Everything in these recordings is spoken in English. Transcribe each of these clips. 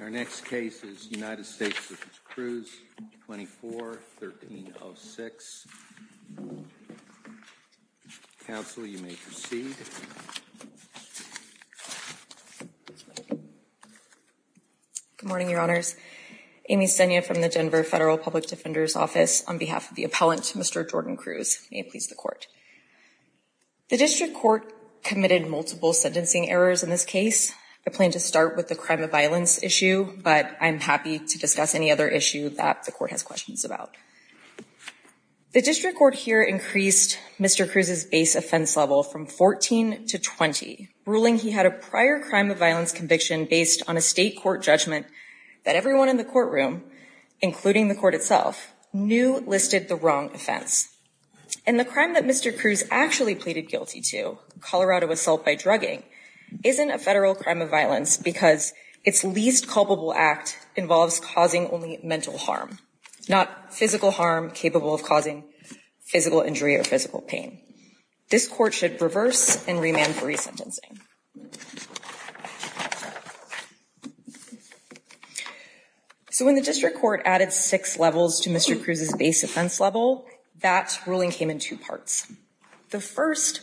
Our next case is United States v. Cruz, 24-1306. Counsel, you may proceed. Good morning, Your Honors. Amy Senya from the Denver Federal Public Defender's Office on behalf of the appellant, Mr. Jordan Cruz. May it please the Court. The District Court committed multiple sentencing errors in this case. I plan to start with the crime of violence issue, but I'm happy to discuss any other issue that the Court has questions about. The District Court here increased Mr. Cruz's base offense level from 14 to 20, ruling he had a prior crime of violence conviction based on a state court judgment that everyone in the courtroom, including the Court itself, knew listed the wrong offense. And the crime that Mr. Cruz actually pleaded guilty to, Colorado assault by drugging, isn't a federal crime of violence because its least culpable act involves causing only mental harm, not physical harm capable of causing physical injury or physical pain. This Court should reverse and remand for resentencing. So when the District Court added six levels to Mr. Cruz's base offense level, that ruling came in two parts. The first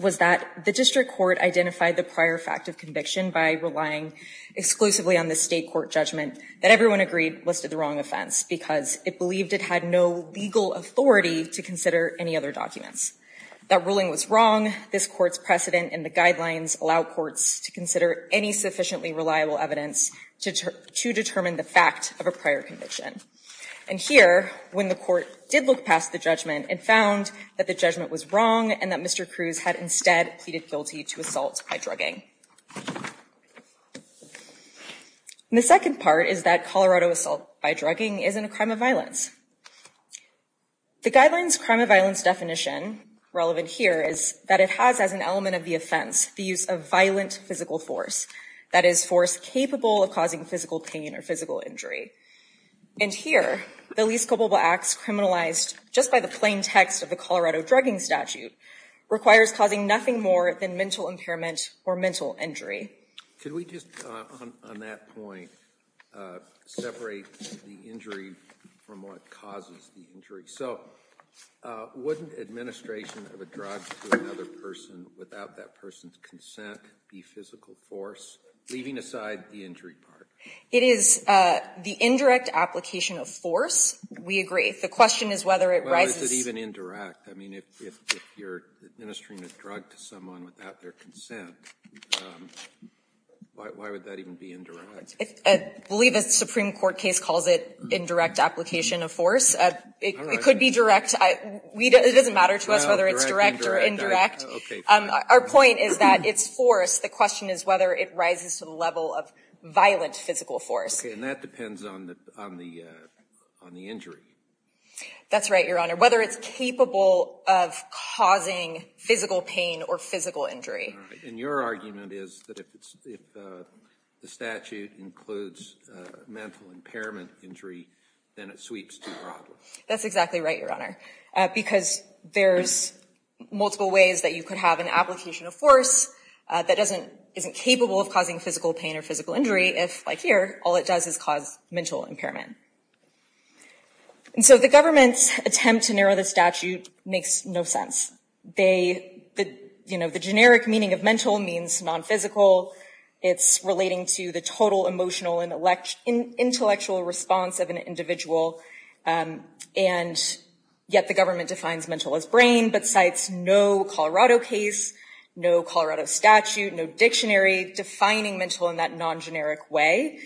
was that the District Court identified the prior fact of conviction by relying exclusively on the state court judgment that everyone agreed listed the wrong offense because it believed it had no legal authority to consider any other documents. That ruling was wrong. This Court's precedent and the guidelines allow courts to consider any sufficiently reliable evidence to determine the fact of a prior conviction. And here, when the Court did look past the judgment and found that the judgment was wrong and that Mr. Cruz had instead pleaded guilty to assault by drugging. The second part is that Colorado assault by drugging isn't a crime of violence. The guidelines crime of violence definition relevant here is that it has as an element of the offense the use of violent physical force. That is force capable of causing physical pain or physical injury. And here, the least culpable acts criminalized just by the plain text of the Colorado drugging statute requires causing nothing more than mental impairment or mental injury. Could we just, on that point, separate the injury from what causes the injury? So, wouldn't administration of a drug to another person without that person's consent be physical force, leaving aside the injury part? It is the indirect application of force. We agree. The question is whether it rises. Why is it even indirect? I mean, if you're administering a drug to someone without their consent, why would that even be indirect? I believe the Supreme Court case calls it indirect application of force. It could be direct. It doesn't matter to us whether it's direct or indirect. Our point is that it's force. The question is whether it rises to the level of violent physical force. And that depends on the injury. That's right, Your Honor. Whether it's capable of causing physical pain or physical injury. And your argument is that if the statute includes mental impairment injury, then it sweeps too broadly. That's exactly right, Your Honor, because there's multiple ways that you could have an application of force that isn't capable of causing physical pain or physical injury if, like here, all it does is cause mental impairment. And so the government's attempt to narrow the statute makes no sense. The generic meaning of mental means non-physical. It's relating to the total emotional and intellectual response of an individual. And yet the government defines mental as brain, but cites no Colorado case, no Colorado statute, no dictionary defining mental in that non-generic way.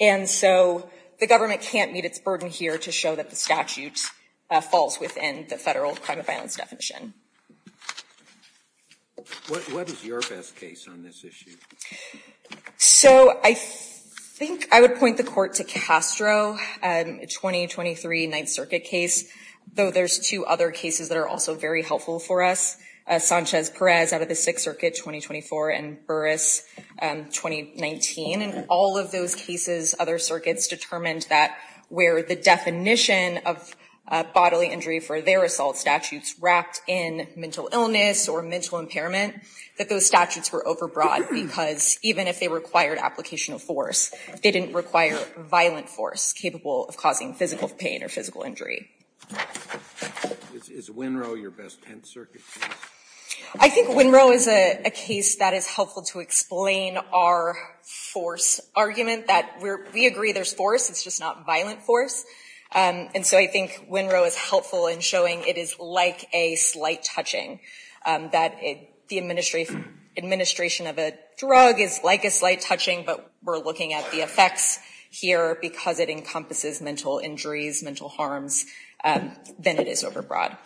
And so the government can't meet its burden here to show that the statute falls within the federal crime of violence definition. What is your best case on this issue? So I think I would point the court to Castro, a 2023 Ninth Circuit case, though there's two other cases that are also very helpful for us. Sanchez-Perez out of the Sixth Circuit, 2024, and Burris, 2019. In all of those cases, other circuits determined that where the definition of bodily injury for their assault statutes wrapped in mental illness or mental impairment, that those statutes were overbroad. Because even if they required application of force, they didn't require violent force capable of causing physical pain or physical injury. Is Winrow your best Tenth Circuit case? I think Winrow is a case that is helpful to explain our force argument, that we agree there's force, it's just not violent force. And so I think Winrow is helpful in showing it is like a slight touching. That the administration of a drug is like a slight touching, but we're looking at the effects here because it encompasses mental injuries, mental harms, then it is overbroad.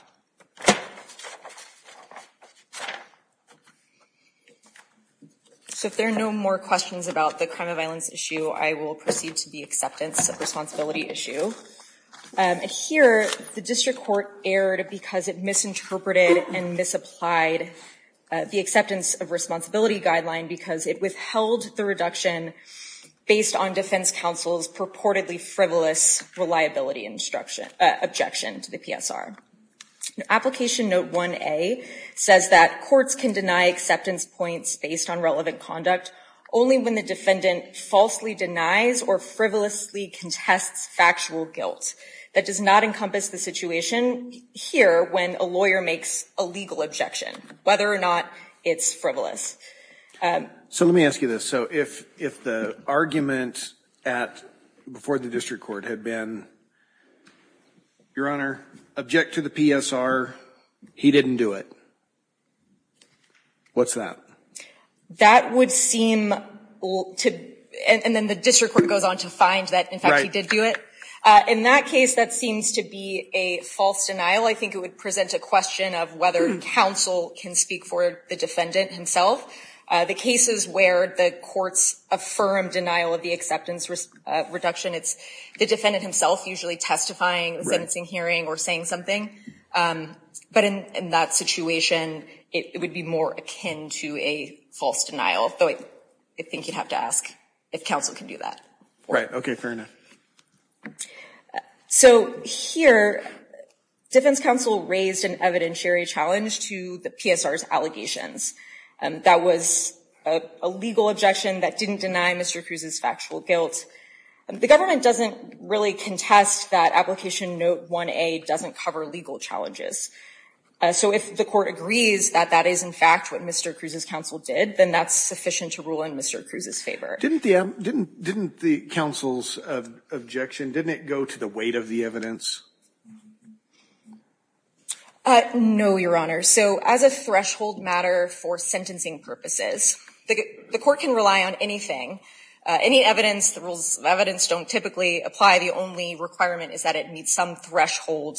So if there are no more questions about the crime of violence issue, I will proceed to the acceptance of responsibility issue. Here, the district court erred because it misinterpreted and misapplied the acceptance of responsibility guideline because it withheld the reduction based on defense counsel's purportedly frivolous reliability objection to the PSR. Application note 1A says that courts can deny acceptance points based on relevant conduct only when the defendant falsely denies or frivolously contests factual guilt. That does not encompass the situation here when a lawyer makes a legal objection, whether or not it's frivolous. So let me ask you this, so if the argument before the district court had been, your honor, object to the PSR, he didn't do it, what's that? That would seem, and then the district court goes on to find that in fact he did do it. In that case, that seems to be a false denial. I think it would present a question of whether counsel can speak for the defendant himself. The cases where the courts affirm denial of the acceptance reduction, it's the defendant himself usually testifying, sentencing hearing, or saying something. But in that situation, it would be more akin to a false denial, though I think you'd have to ask if counsel can do that. Right, okay, fair enough. So here, defense counsel raised an evidentiary challenge to the PSR's allegations. That was a legal objection that didn't deny Mr. Cruz's factual guilt. The government doesn't really contest that application note 1A doesn't cover legal challenges. So if the court agrees that that is in fact what Mr. Cruz's counsel did, then that's sufficient to rule in Mr. Cruz's favor. Didn't the counsel's objection, didn't it go to the weight of the evidence? No, Your Honor. So as a threshold matter for sentencing purposes, the court can rely on anything. Any evidence, the rules of evidence don't typically apply. The only requirement is that it meets some threshold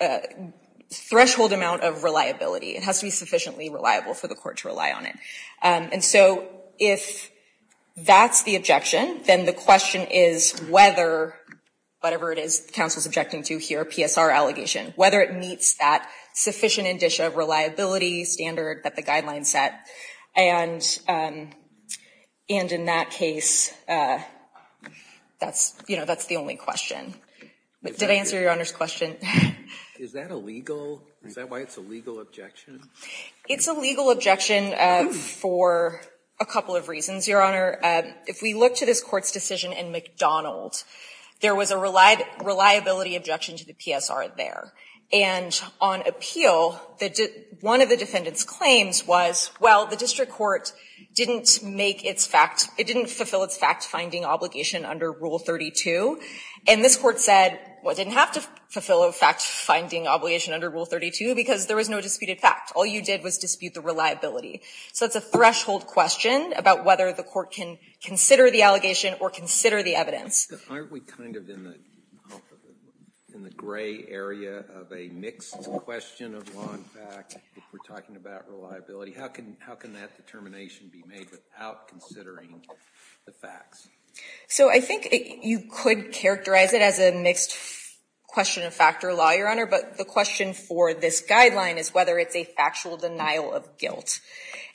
amount of reliability. It has to be sufficiently reliable for the court to rely on it. And so if that's the objection, then the question is whether, whatever it is the counsel's objecting to here, PSR allegation, whether it meets that sufficient indicia of reliability standard that the guidelines set. And in that case, that's the only question. Did I answer Your Honor's question? Is that a legal, is that why it's a legal objection? It's a legal objection for a couple of reasons, Your Honor. If we look to this Court's decision in McDonald, there was a reliability objection to the PSR there. And on appeal, one of the defendant's claims was, well, the district court didn't make its fact, it didn't fulfill its fact-finding obligation under Rule 32. And this Court said, well, it didn't have to fulfill a fact-finding obligation under Rule 32 because there was no disputed fact. All you did was dispute the reliability. So it's a threshold question about whether the court can consider the allegation or consider the evidence. Aren't we kind of in the gray area of a mixed question of law and fact if we're talking about reliability? How can that determination be made without considering the facts? So I think you could characterize it as a mixed question of fact or law, Your Honor. But the question for this guideline is whether it's a factual denial of guilt.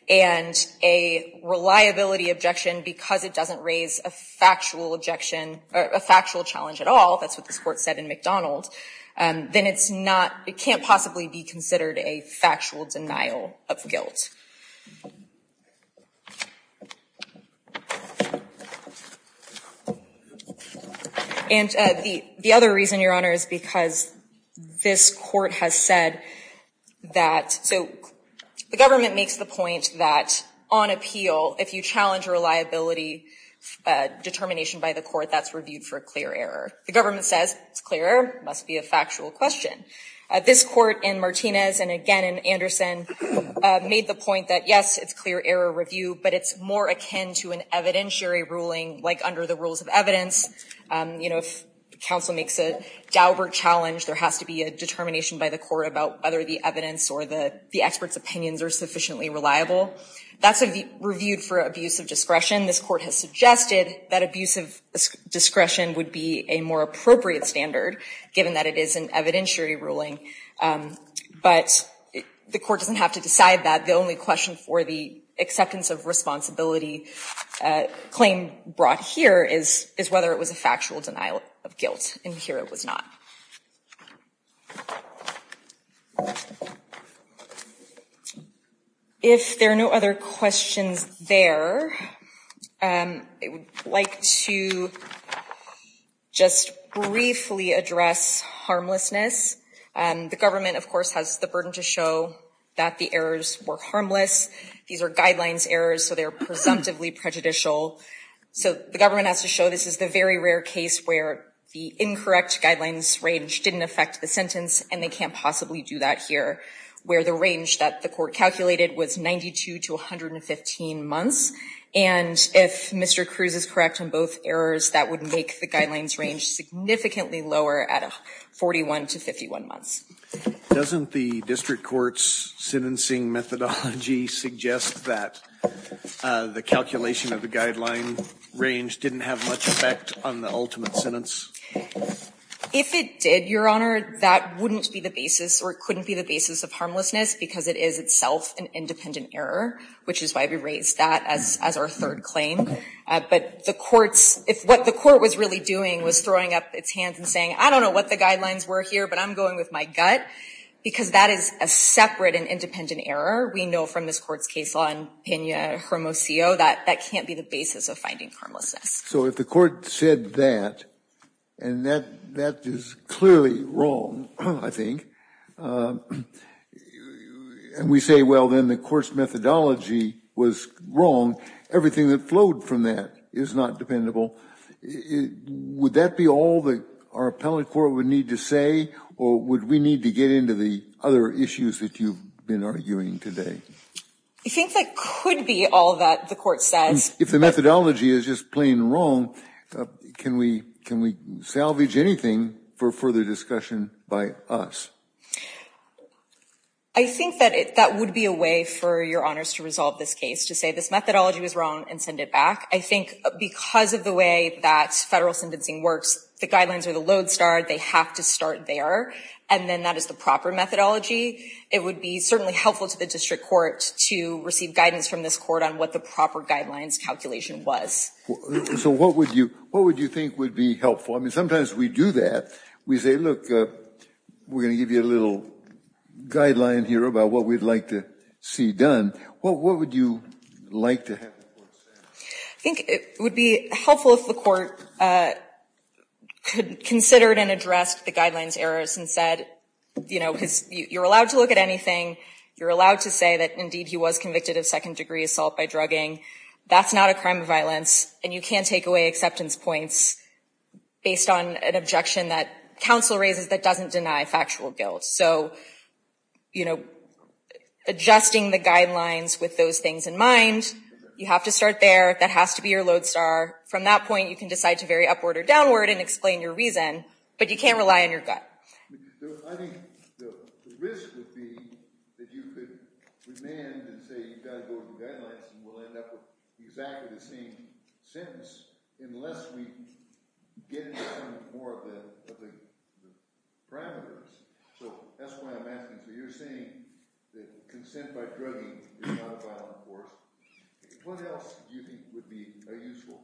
And a reliability objection, because it doesn't raise a factual objection, a factual challenge at all, that's what this Court said in McDonald, then it's not, it can't possibly be considered a factual denial of guilt. And the other reason, Your Honor, is because this Court has said that, so the government makes the point that on appeal, if you challenge reliability determination by the court, that's reviewed for a clear error. The government says it's a clear error, it must be a factual question. This Court in Martinez and again in Anderson made the point that, yes, it's clear error review, but it's more akin to an evidentiary ruling like under the rules of evidence. You know, if counsel makes a doubler challenge, there has to be a determination by the court about whether the evidence or the expert's opinions are sufficiently reliable. That's reviewed for abuse of discretion. This Court has suggested that abuse of discretion would be a more appropriate standard, given that it is an evidentiary ruling. But the court doesn't have to decide that. The only question for the acceptance of responsibility claim brought here is whether it was a factual denial of guilt. And here it was not. If there are no other questions there, I would like to just briefly address harmlessness. The government, of course, has the burden to show that the errors were harmless. These are guidelines errors, so they're presumptively prejudicial. So the government has to show this is the very rare case where the incorrect guidelines range didn't affect the sentence, and they can't possibly do that here, where the range that the court calculated was 92 to 115 months. And if Mr. Cruz is correct on both errors, that would make the guidelines range significantly lower at 41 to 51 months. Doesn't the district court's sentencing methodology suggest that the calculation of the guideline range didn't have much effect on the ultimate sentence? If it did, Your Honor, that wouldn't be the basis or couldn't be the basis of harmlessness because it is itself an independent error, which is why we raised that as our third claim. But if what the court was really doing was throwing up its hands and saying, I don't know what the guidelines were here, but I'm going with my gut, because that is a separate and independent error. We know from this court's case law in Pena-Hermosillo that that can't be the basis of finding harmlessness. So if the court said that, and that is clearly wrong, I think, and we say, well, then the court's methodology was wrong, everything that flowed from that is not dependable, would that be all that our appellate court would need to say, or would we need to get into the other issues that you've been arguing today? I think that could be all that the court says. If the methodology is just plain wrong, can we salvage anything for further discussion by us? I think that that would be a way for Your Honors to resolve this case, to say this methodology was wrong and send it back. I think because of the way that federal sentencing works, the guidelines are the lodestar, they have to start there, and then that is the proper methodology. It would be certainly helpful to the district court to receive guidance from this court on what the proper guidelines calculation was. So what would you think would be helpful? I mean, sometimes we do that. We say, look, we're going to give you a little guideline here about what we'd like to see done. What would you like to have the court say? I think it would be helpful if the court considered and addressed the guidelines errors and said, you're allowed to look at anything, you're allowed to say that, indeed, he was convicted of second-degree assault by drugging. That's not a crime of violence, and you can't take away acceptance points based on an objection that counsel raises that doesn't deny factual guilt. So, you know, adjusting the guidelines with those things in mind, you have to start there. That has to be your lodestar. From that point, you can decide to vary upward or downward and explain your reason, but you can't rely on your gut. I think the risk would be that you could demand and say, you've got to go to the guidelines, and we'll end up with exactly the same sentence unless we get into some more of the parameters. So that's why I'm asking for your saying that consent by drugging is not a violent court. What else do you think would be a useful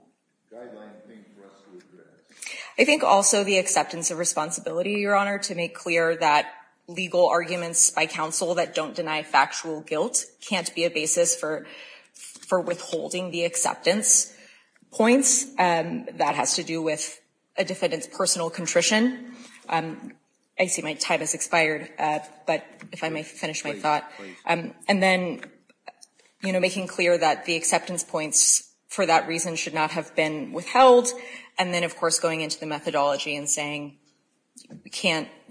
guideline thing for us to address? I think also the acceptance of responsibility, Your Honor, to make clear that legal arguments by counsel that don't deny factual guilt can't be a basis for withholding the acceptance points. That has to do with a defendant's personal contrition. I see my time has expired, but if I may finish my thought. And then, you know, making clear that the acceptance points for that reason should not have been withheld, and then, of course, going into the methodology and saying you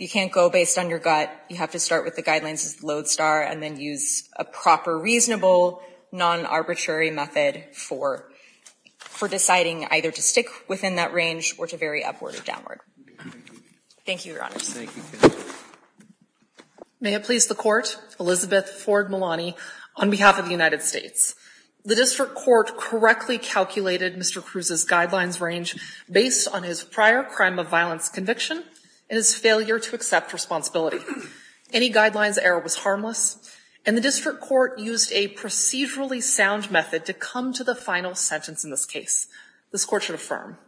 can't go based on your gut, you have to start with the guidelines as lodestar, and then use a proper, reasonable, non-arbitrary method for deciding either to stick within that range or to vary upward or downward. Thank you, Your Honor. May it please the Court. Elizabeth Ford Malani on behalf of the United States. The district court correctly calculated Mr. Cruz's guidelines range based on his prior crime of violence conviction and his failure to accept responsibility. Any guidelines error was harmless, and the district court used a procedurally sound method to come to the final sentence in this case. This Court should affirm.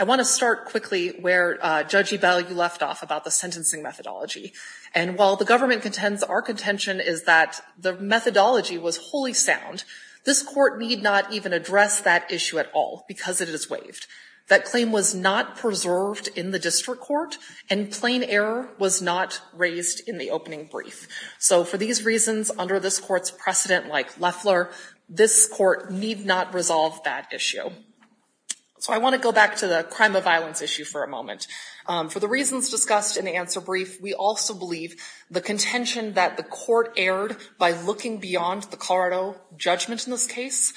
I want to start quickly where, Judge Ebell, you left off about the sentencing methodology. And while the government contends our contention is that the methodology was wholly sound, this Court need not even address that issue at all because it is waived. That claim was not preserved in the district court, and plain error was not raised in the opening brief. So for these reasons, under this Court's precedent like Loeffler, this Court need not resolve that issue. So I want to go back to the crime of violence issue for a moment. For the reasons discussed in the answer brief, we also believe the contention that the Court erred by looking beyond the Colorado judgment in this case,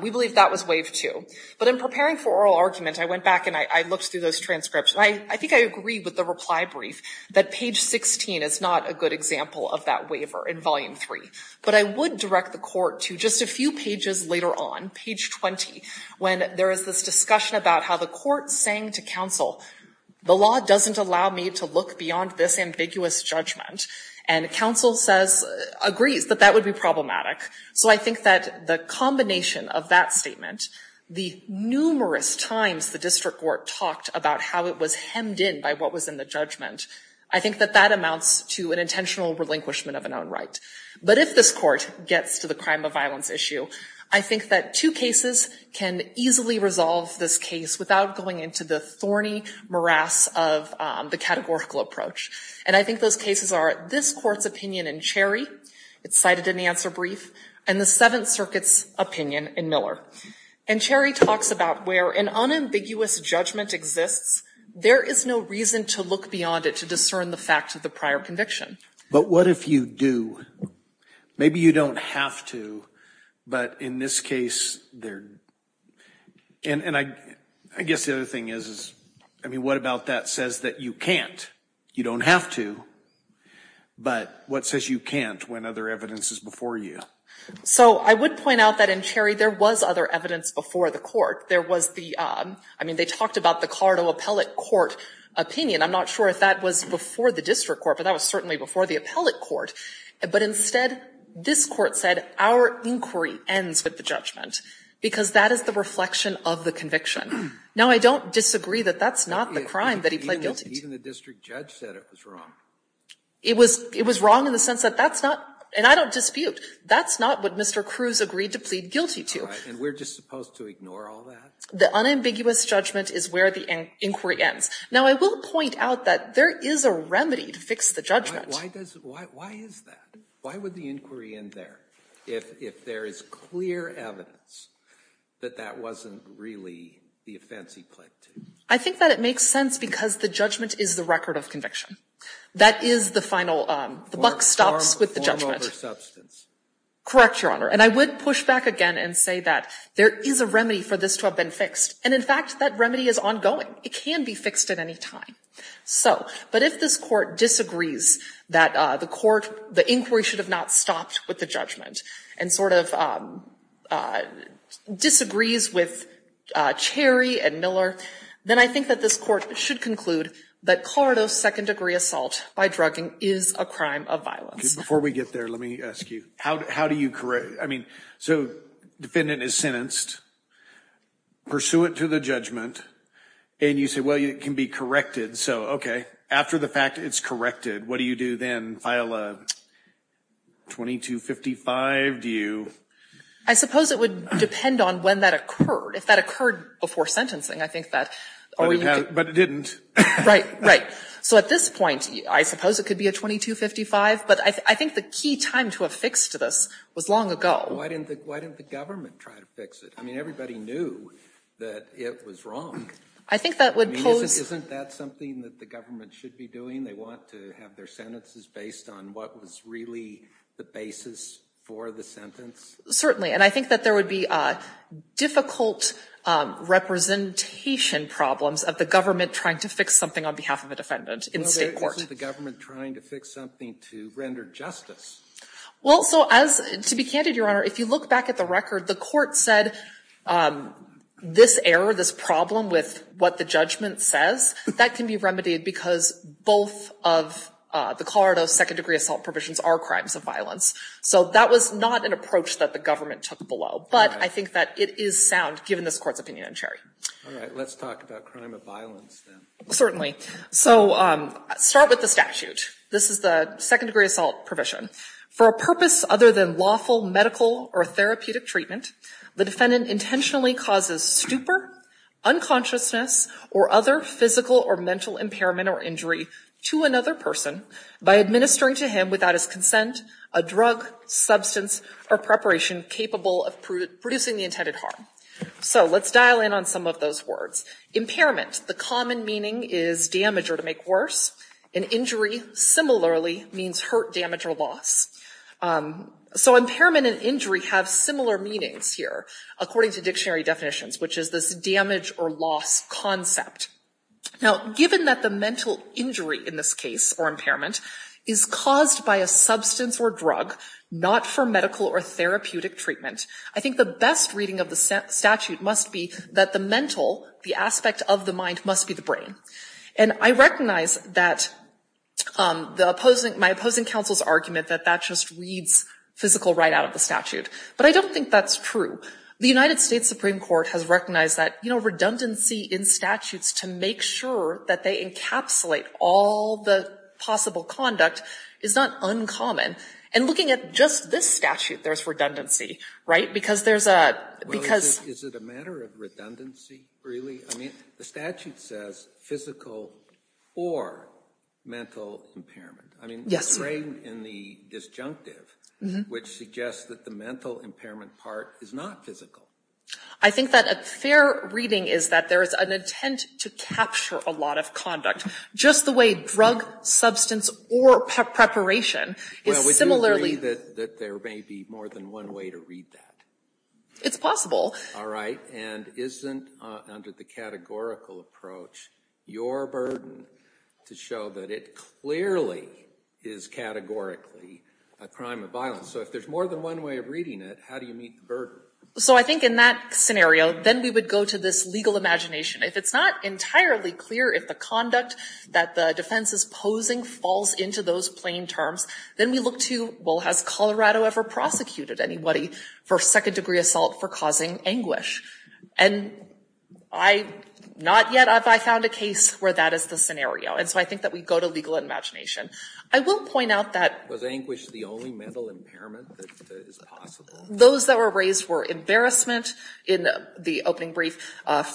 we believe that was waived too. But in preparing for oral argument, I went back and I looked through those transcripts, and I think I agree with the reply brief that page 16 is not a good example of that waiver in volume 3. But I would direct the Court to just a few pages later on, page 20, when there is this discussion about how the Court is saying to counsel, the law doesn't allow me to look beyond this ambiguous judgment, and counsel agrees that that would be problematic. So I think that the combination of that statement, the numerous times the district court talked about how it was hemmed in by what was in the judgment, I think that that amounts to an intentional relinquishment of an own right. But if this Court gets to the crime of violence issue, I think that two cases can easily resolve this case without going into the thorny morass of the categorical approach. And I think those cases are this Court's opinion in Cherry, it's cited in the answer brief, and the Seventh Circuit's opinion in Miller. And Cherry talks about where an unambiguous judgment exists, there is no reason to look beyond it to discern the fact of the prior conviction. But what if you do? Maybe you don't have to, but in this case there... And I guess the other thing is, I mean, what about that says that you can't? You don't have to, but what says you can't when other evidence is before you? So I would point out that in Cherry there was other evidence before the Court. There was the, I mean, they talked about the Colorado Appellate Court opinion. I'm not sure if that was before the District Court, but that was certainly before the Appellate Court. But instead, this Court said our inquiry ends with the judgment, because that is the reflection of the conviction. Now, I don't disagree that that's not the crime that he pled guilty to. Even the district judge said it was wrong. It was wrong in the sense that that's not, and I don't dispute, that's not what Mr. Cruz agreed to plead guilty to. And we're just supposed to ignore all that? The unambiguous judgment is where the inquiry ends. Now, I will point out that there is a remedy to fix the judgment. Why is that? Why would the inquiry end there if there is clear evidence that that wasn't really the offense he pled guilty to? I think that it makes sense because the judgment is the record of conviction. That is the final, the buck stops with the judgment. Form over substance. Correct, Your Honor. And I would push back again and say that there is a remedy for this to have been fixed. And, in fact, that remedy is ongoing. It can be fixed at any time. So, but if this court disagrees that the court, the inquiry should have not stopped with the judgment, and sort of disagrees with Cherry and Miller, then I think that this court should conclude that Colorado's second-degree assault by drugging is a crime of violence. Before we get there, let me ask you, how do you correct, I mean, so defendant is sentenced, pursuant to the judgment, and you say, well, it can be corrected. So, okay. After the fact, it's corrected. What do you do then? File a 2255? Do you? I suppose it would depend on when that occurred. If that occurred before sentencing, I think that. But it didn't. Right, right. So at this point, I suppose it could be a 2255. But I think the key time to have fixed this was long ago. Why didn't the government try to fix it? I mean, everybody knew that it was wrong. I think that would pose. I mean, isn't that something that the government should be doing? They want to have their sentences based on what was really the basis for the sentence? Certainly. And I think that there would be difficult representation problems of the government trying to fix something on behalf of a defendant in state court. Isn't the government trying to fix something to render justice? Well, so to be candid, Your Honor, if you look back at the record, the court said this error, this problem with what the judgment says, that can be remedied because both of the Colorado second degree assault provisions are crimes of violence. So that was not an approach that the government took below. But I think that it is sound, given this court's opinion on Cherry. All right. Let's talk about crime of violence then. Certainly. So start with the statute. This is the second degree assault provision. For a purpose other than lawful, medical, or therapeutic treatment, the defendant intentionally causes stupor, unconsciousness, or other physical or mental impairment or injury to another person by administering to him without his consent a drug, substance, or preparation capable of producing the intended harm. So let's dial in on some of those words. Impairment, the common meaning is damage or to make worse. And injury, similarly, means hurt, damage, or loss. So impairment and injury have similar meanings here, according to dictionary definitions, which is this damage or loss concept. Now, given that the mental injury in this case, or impairment, is caused by a substance or drug, not for medical or therapeutic treatment, I think the best reading of the statute must be that the mental, the aspect of the mind, must be the brain. And I recognize that the opposing, my opposing counsel's argument that that just reads physical right out of the statute. But I don't think that's true. The United States Supreme Court has recognized that, you know, redundancy in statutes to make sure that they encapsulate all the possible conduct is not uncommon. And looking at just this statute, there's redundancy, right? Because there's a, because. Yes. Is it a matter of redundancy, really? I mean, the statute says physical or mental impairment. Yes. I mean, it's framed in the disjunctive, which suggests that the mental impairment part is not physical. I think that a fair reading is that there is an intent to capture a lot of conduct, just the way drug, substance, or preparation is similarly. Well, would you agree that there may be more than one way to read that? It's possible. All right. And isn't, under the categorical approach, your burden to show that it clearly is categorically a crime of violence? So if there's more than one way of reading it, how do you meet the burden? So I think in that scenario, then we would go to this legal imagination. If it's not entirely clear if the conduct that the defense is posing falls into those plain terms, then we look to, well, has Colorado ever prosecuted anybody for second-degree assault for causing anguish? And not yet have I found a case where that is the scenario. And so I think that we go to legal imagination. I will point out that— Was anguish the only mental impairment that is possible? Those that were raised were embarrassment in the opening brief,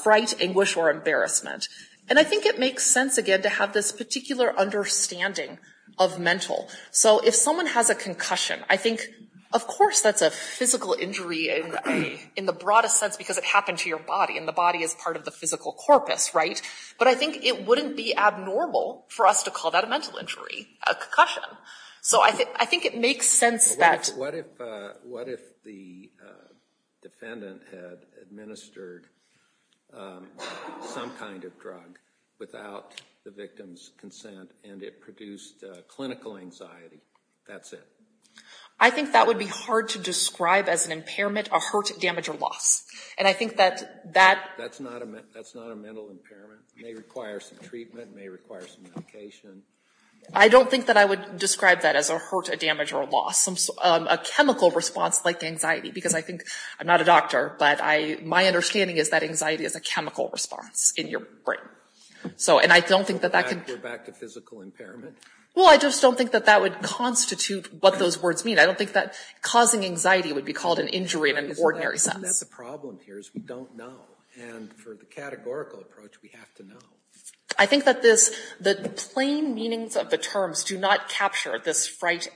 fright, anguish, or embarrassment. And I think it makes sense, again, to have this particular understanding of mental. So if someone has a concussion, I think, of course that's a physical injury in the broadest sense because it happened to your body, and the body is part of the physical corpus, right? But I think it wouldn't be abnormal for us to call that a mental injury, a concussion. So I think it makes sense that— What if the defendant had administered some kind of drug without the victim's That's it. I think that would be hard to describe as an impairment, a hurt, damage, or loss. And I think that— That's not a mental impairment. It may require some treatment. It may require some medication. I don't think that I would describe that as a hurt, a damage, or a loss. A chemical response like anxiety because I think—I'm not a doctor, but my understanding is that anxiety is a chemical response in your brain. And I don't think that that can— We're back to physical impairment? Well, I just don't think that that would constitute what those words mean. I don't think that causing anxiety would be called an injury in an ordinary sense. That's the problem here is we don't know. And for the categorical approach, we have to know. I think that the plain meanings of the terms do not capture this fright,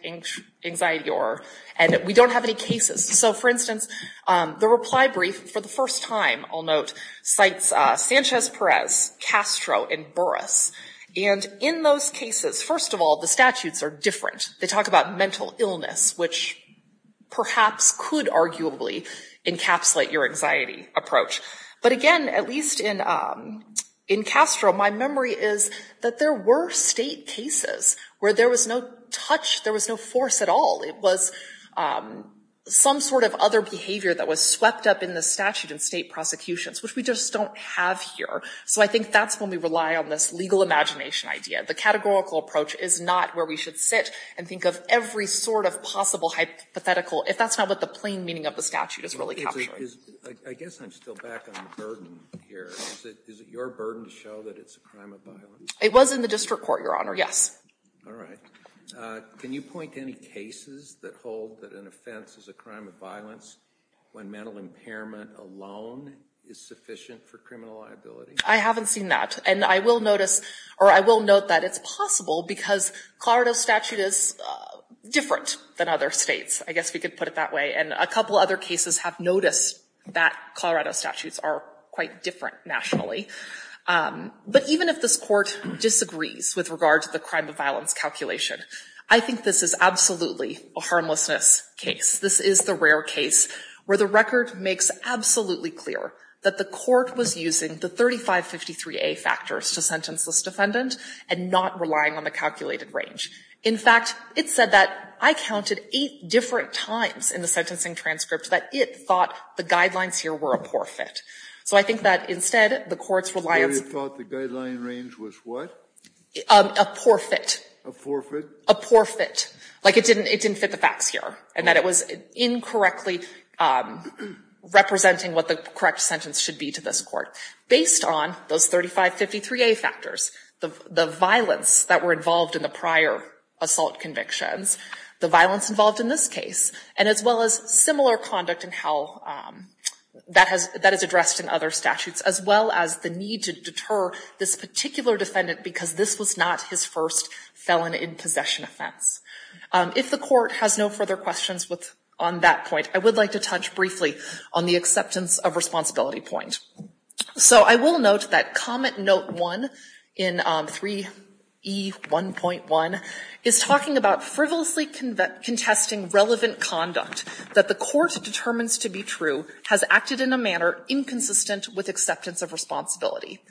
anxiety, or—and we don't have any cases. So, for instance, the reply brief for the first time, I'll note, cites Sanchez-Perez, Castro, and Burris. And in those cases, first of all, the statutes are different. They talk about mental illness, which perhaps could arguably encapsulate your anxiety approach. But again, at least in Castro, my memory is that there were state cases where there was no touch, there was no force at all. It was some sort of other behavior that was swept up in the statute in state prosecutions, which we just don't have here. So I think that's when we rely on this legal imagination idea. The categorical approach is not where we should sit and think of every sort of possible hypothetical, if that's not what the plain meaning of the statute is really capturing. I guess I'm still back on the burden here. Is it your burden to show that it's a crime of violence? It was in the district court, Your Honor, yes. All right. Can you point to any cases that hold that an offense is a crime of violence when mental impairment alone is sufficient for criminal liability? I haven't seen that. And I will note that it's possible because Colorado's statute is different than other states. I guess we could put it that way. And a couple other cases have noticed that Colorado's statutes are quite different nationally. But even if this Court disagrees with regard to the crime of violence calculation, I think this is absolutely a harmlessness case. This is the rare case where the record makes absolutely clear that the court was using the 3553A factors to sentence this defendant and not relying on the calculated range. In fact, it said that I counted eight different times in the sentencing transcript that it thought the guidelines here were a poor fit. So I think that instead, the court's reliance was what? A poor fit. A poor fit? A poor fit. Like it didn't fit the facts here and that it was incorrectly representing what the correct sentence should be to this court based on those 3553A factors, the violence that were involved in the prior assault convictions, the violence involved in this case, and as well as similar conduct in how that is addressed in other statutes, as well as the need to deter this particular defendant because this was not his first felon in possession offense. If the court has no further questions on that point, I would like to touch briefly on the acceptance of responsibility point. So I will note that Comment Note 1 in 3E1.1 is talking about frivolously contesting relevant conduct that the court determines to be true has acted in a manner inconsistent with acceptance of responsibility.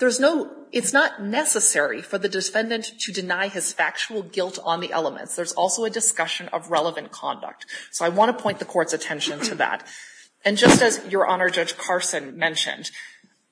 It's not necessary for the defendant to deny his factual guilt on the elements. There's also a discussion of relevant conduct. So I want to point the court's attention to that. And just as Your Honor Judge Carson mentioned,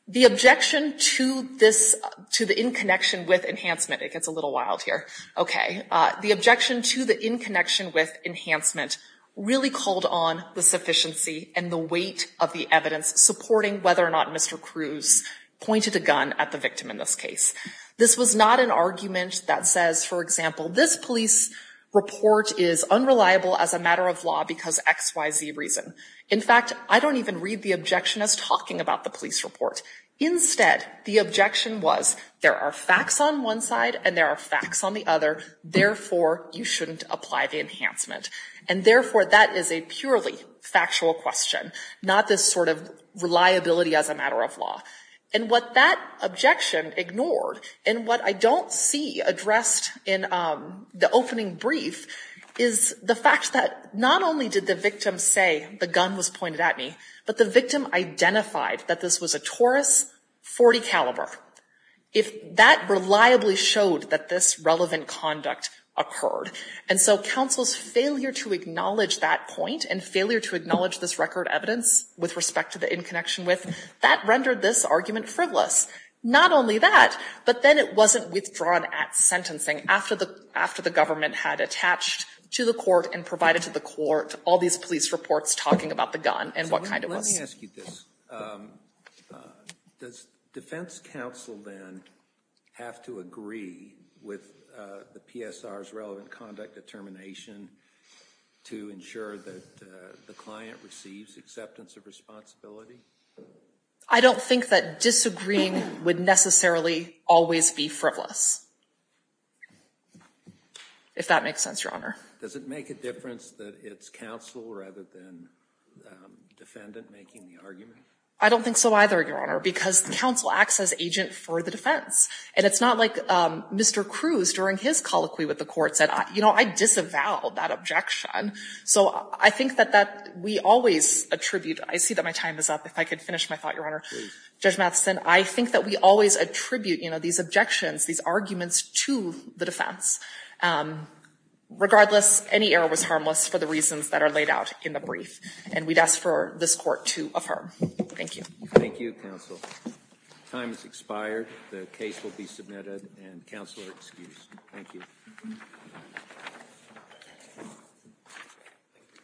the objection to the in connection with enhancement, it gets a little wild here, okay, the objection to the in connection with enhancement really called on the sufficiency and the weight of the evidence supporting whether or not Mr. Cruz pointed a gun at the victim in this case. This was not an argument that says, for example, this police report is unreliable as a matter of law because X, Y, Z reason. In fact, I don't even read the objection as talking about the police report. Instead, the objection was there are facts on one side and there are facts on the other. Therefore, you shouldn't apply the enhancement. And therefore, that is a purely factual question, not this sort of reliability as a matter of law. And what that objection ignored and what I don't see addressed in the opening brief is the fact that not only did the victim say the gun was pointed at me, but the victim identified that this was a Taurus 40 caliber. If that reliably showed that this relevant conduct occurred. And so counsel's failure to acknowledge that point and failure to acknowledge this record evidence with respect to the in connection with, that rendered this argument frivolous. Not only that, but then it wasn't withdrawn at sentencing after the government had attached to the court and provided to the court all these police reports talking about the gun and what kind it was. Let me ask you this. Does defense counsel then have to agree with the PSR's relevant conduct determination to ensure that the client receives acceptance of responsibility? I don't think that disagreeing would necessarily always be frivolous. If that makes sense, Your Honor. Does it make a difference that it's counsel rather than defendant making the argument? I don't think so either, Your Honor, because counsel acts as agent for the defense. And it's not like Mr. Cruz during his colloquy with the court said, you know, I disavow that objection. So I think that we always attribute, I see that my time is up. If I could finish my thought, Your Honor. Judge Matheson, I think that we always attribute these objections, these arguments to the defense. Regardless, any error was harmless for the reasons that are laid out in the brief. And we'd ask for this court to affirm. Thank you. Thank you, counsel. Time has expired. The case will be submitted and counsel excused. Thank you. Thank you.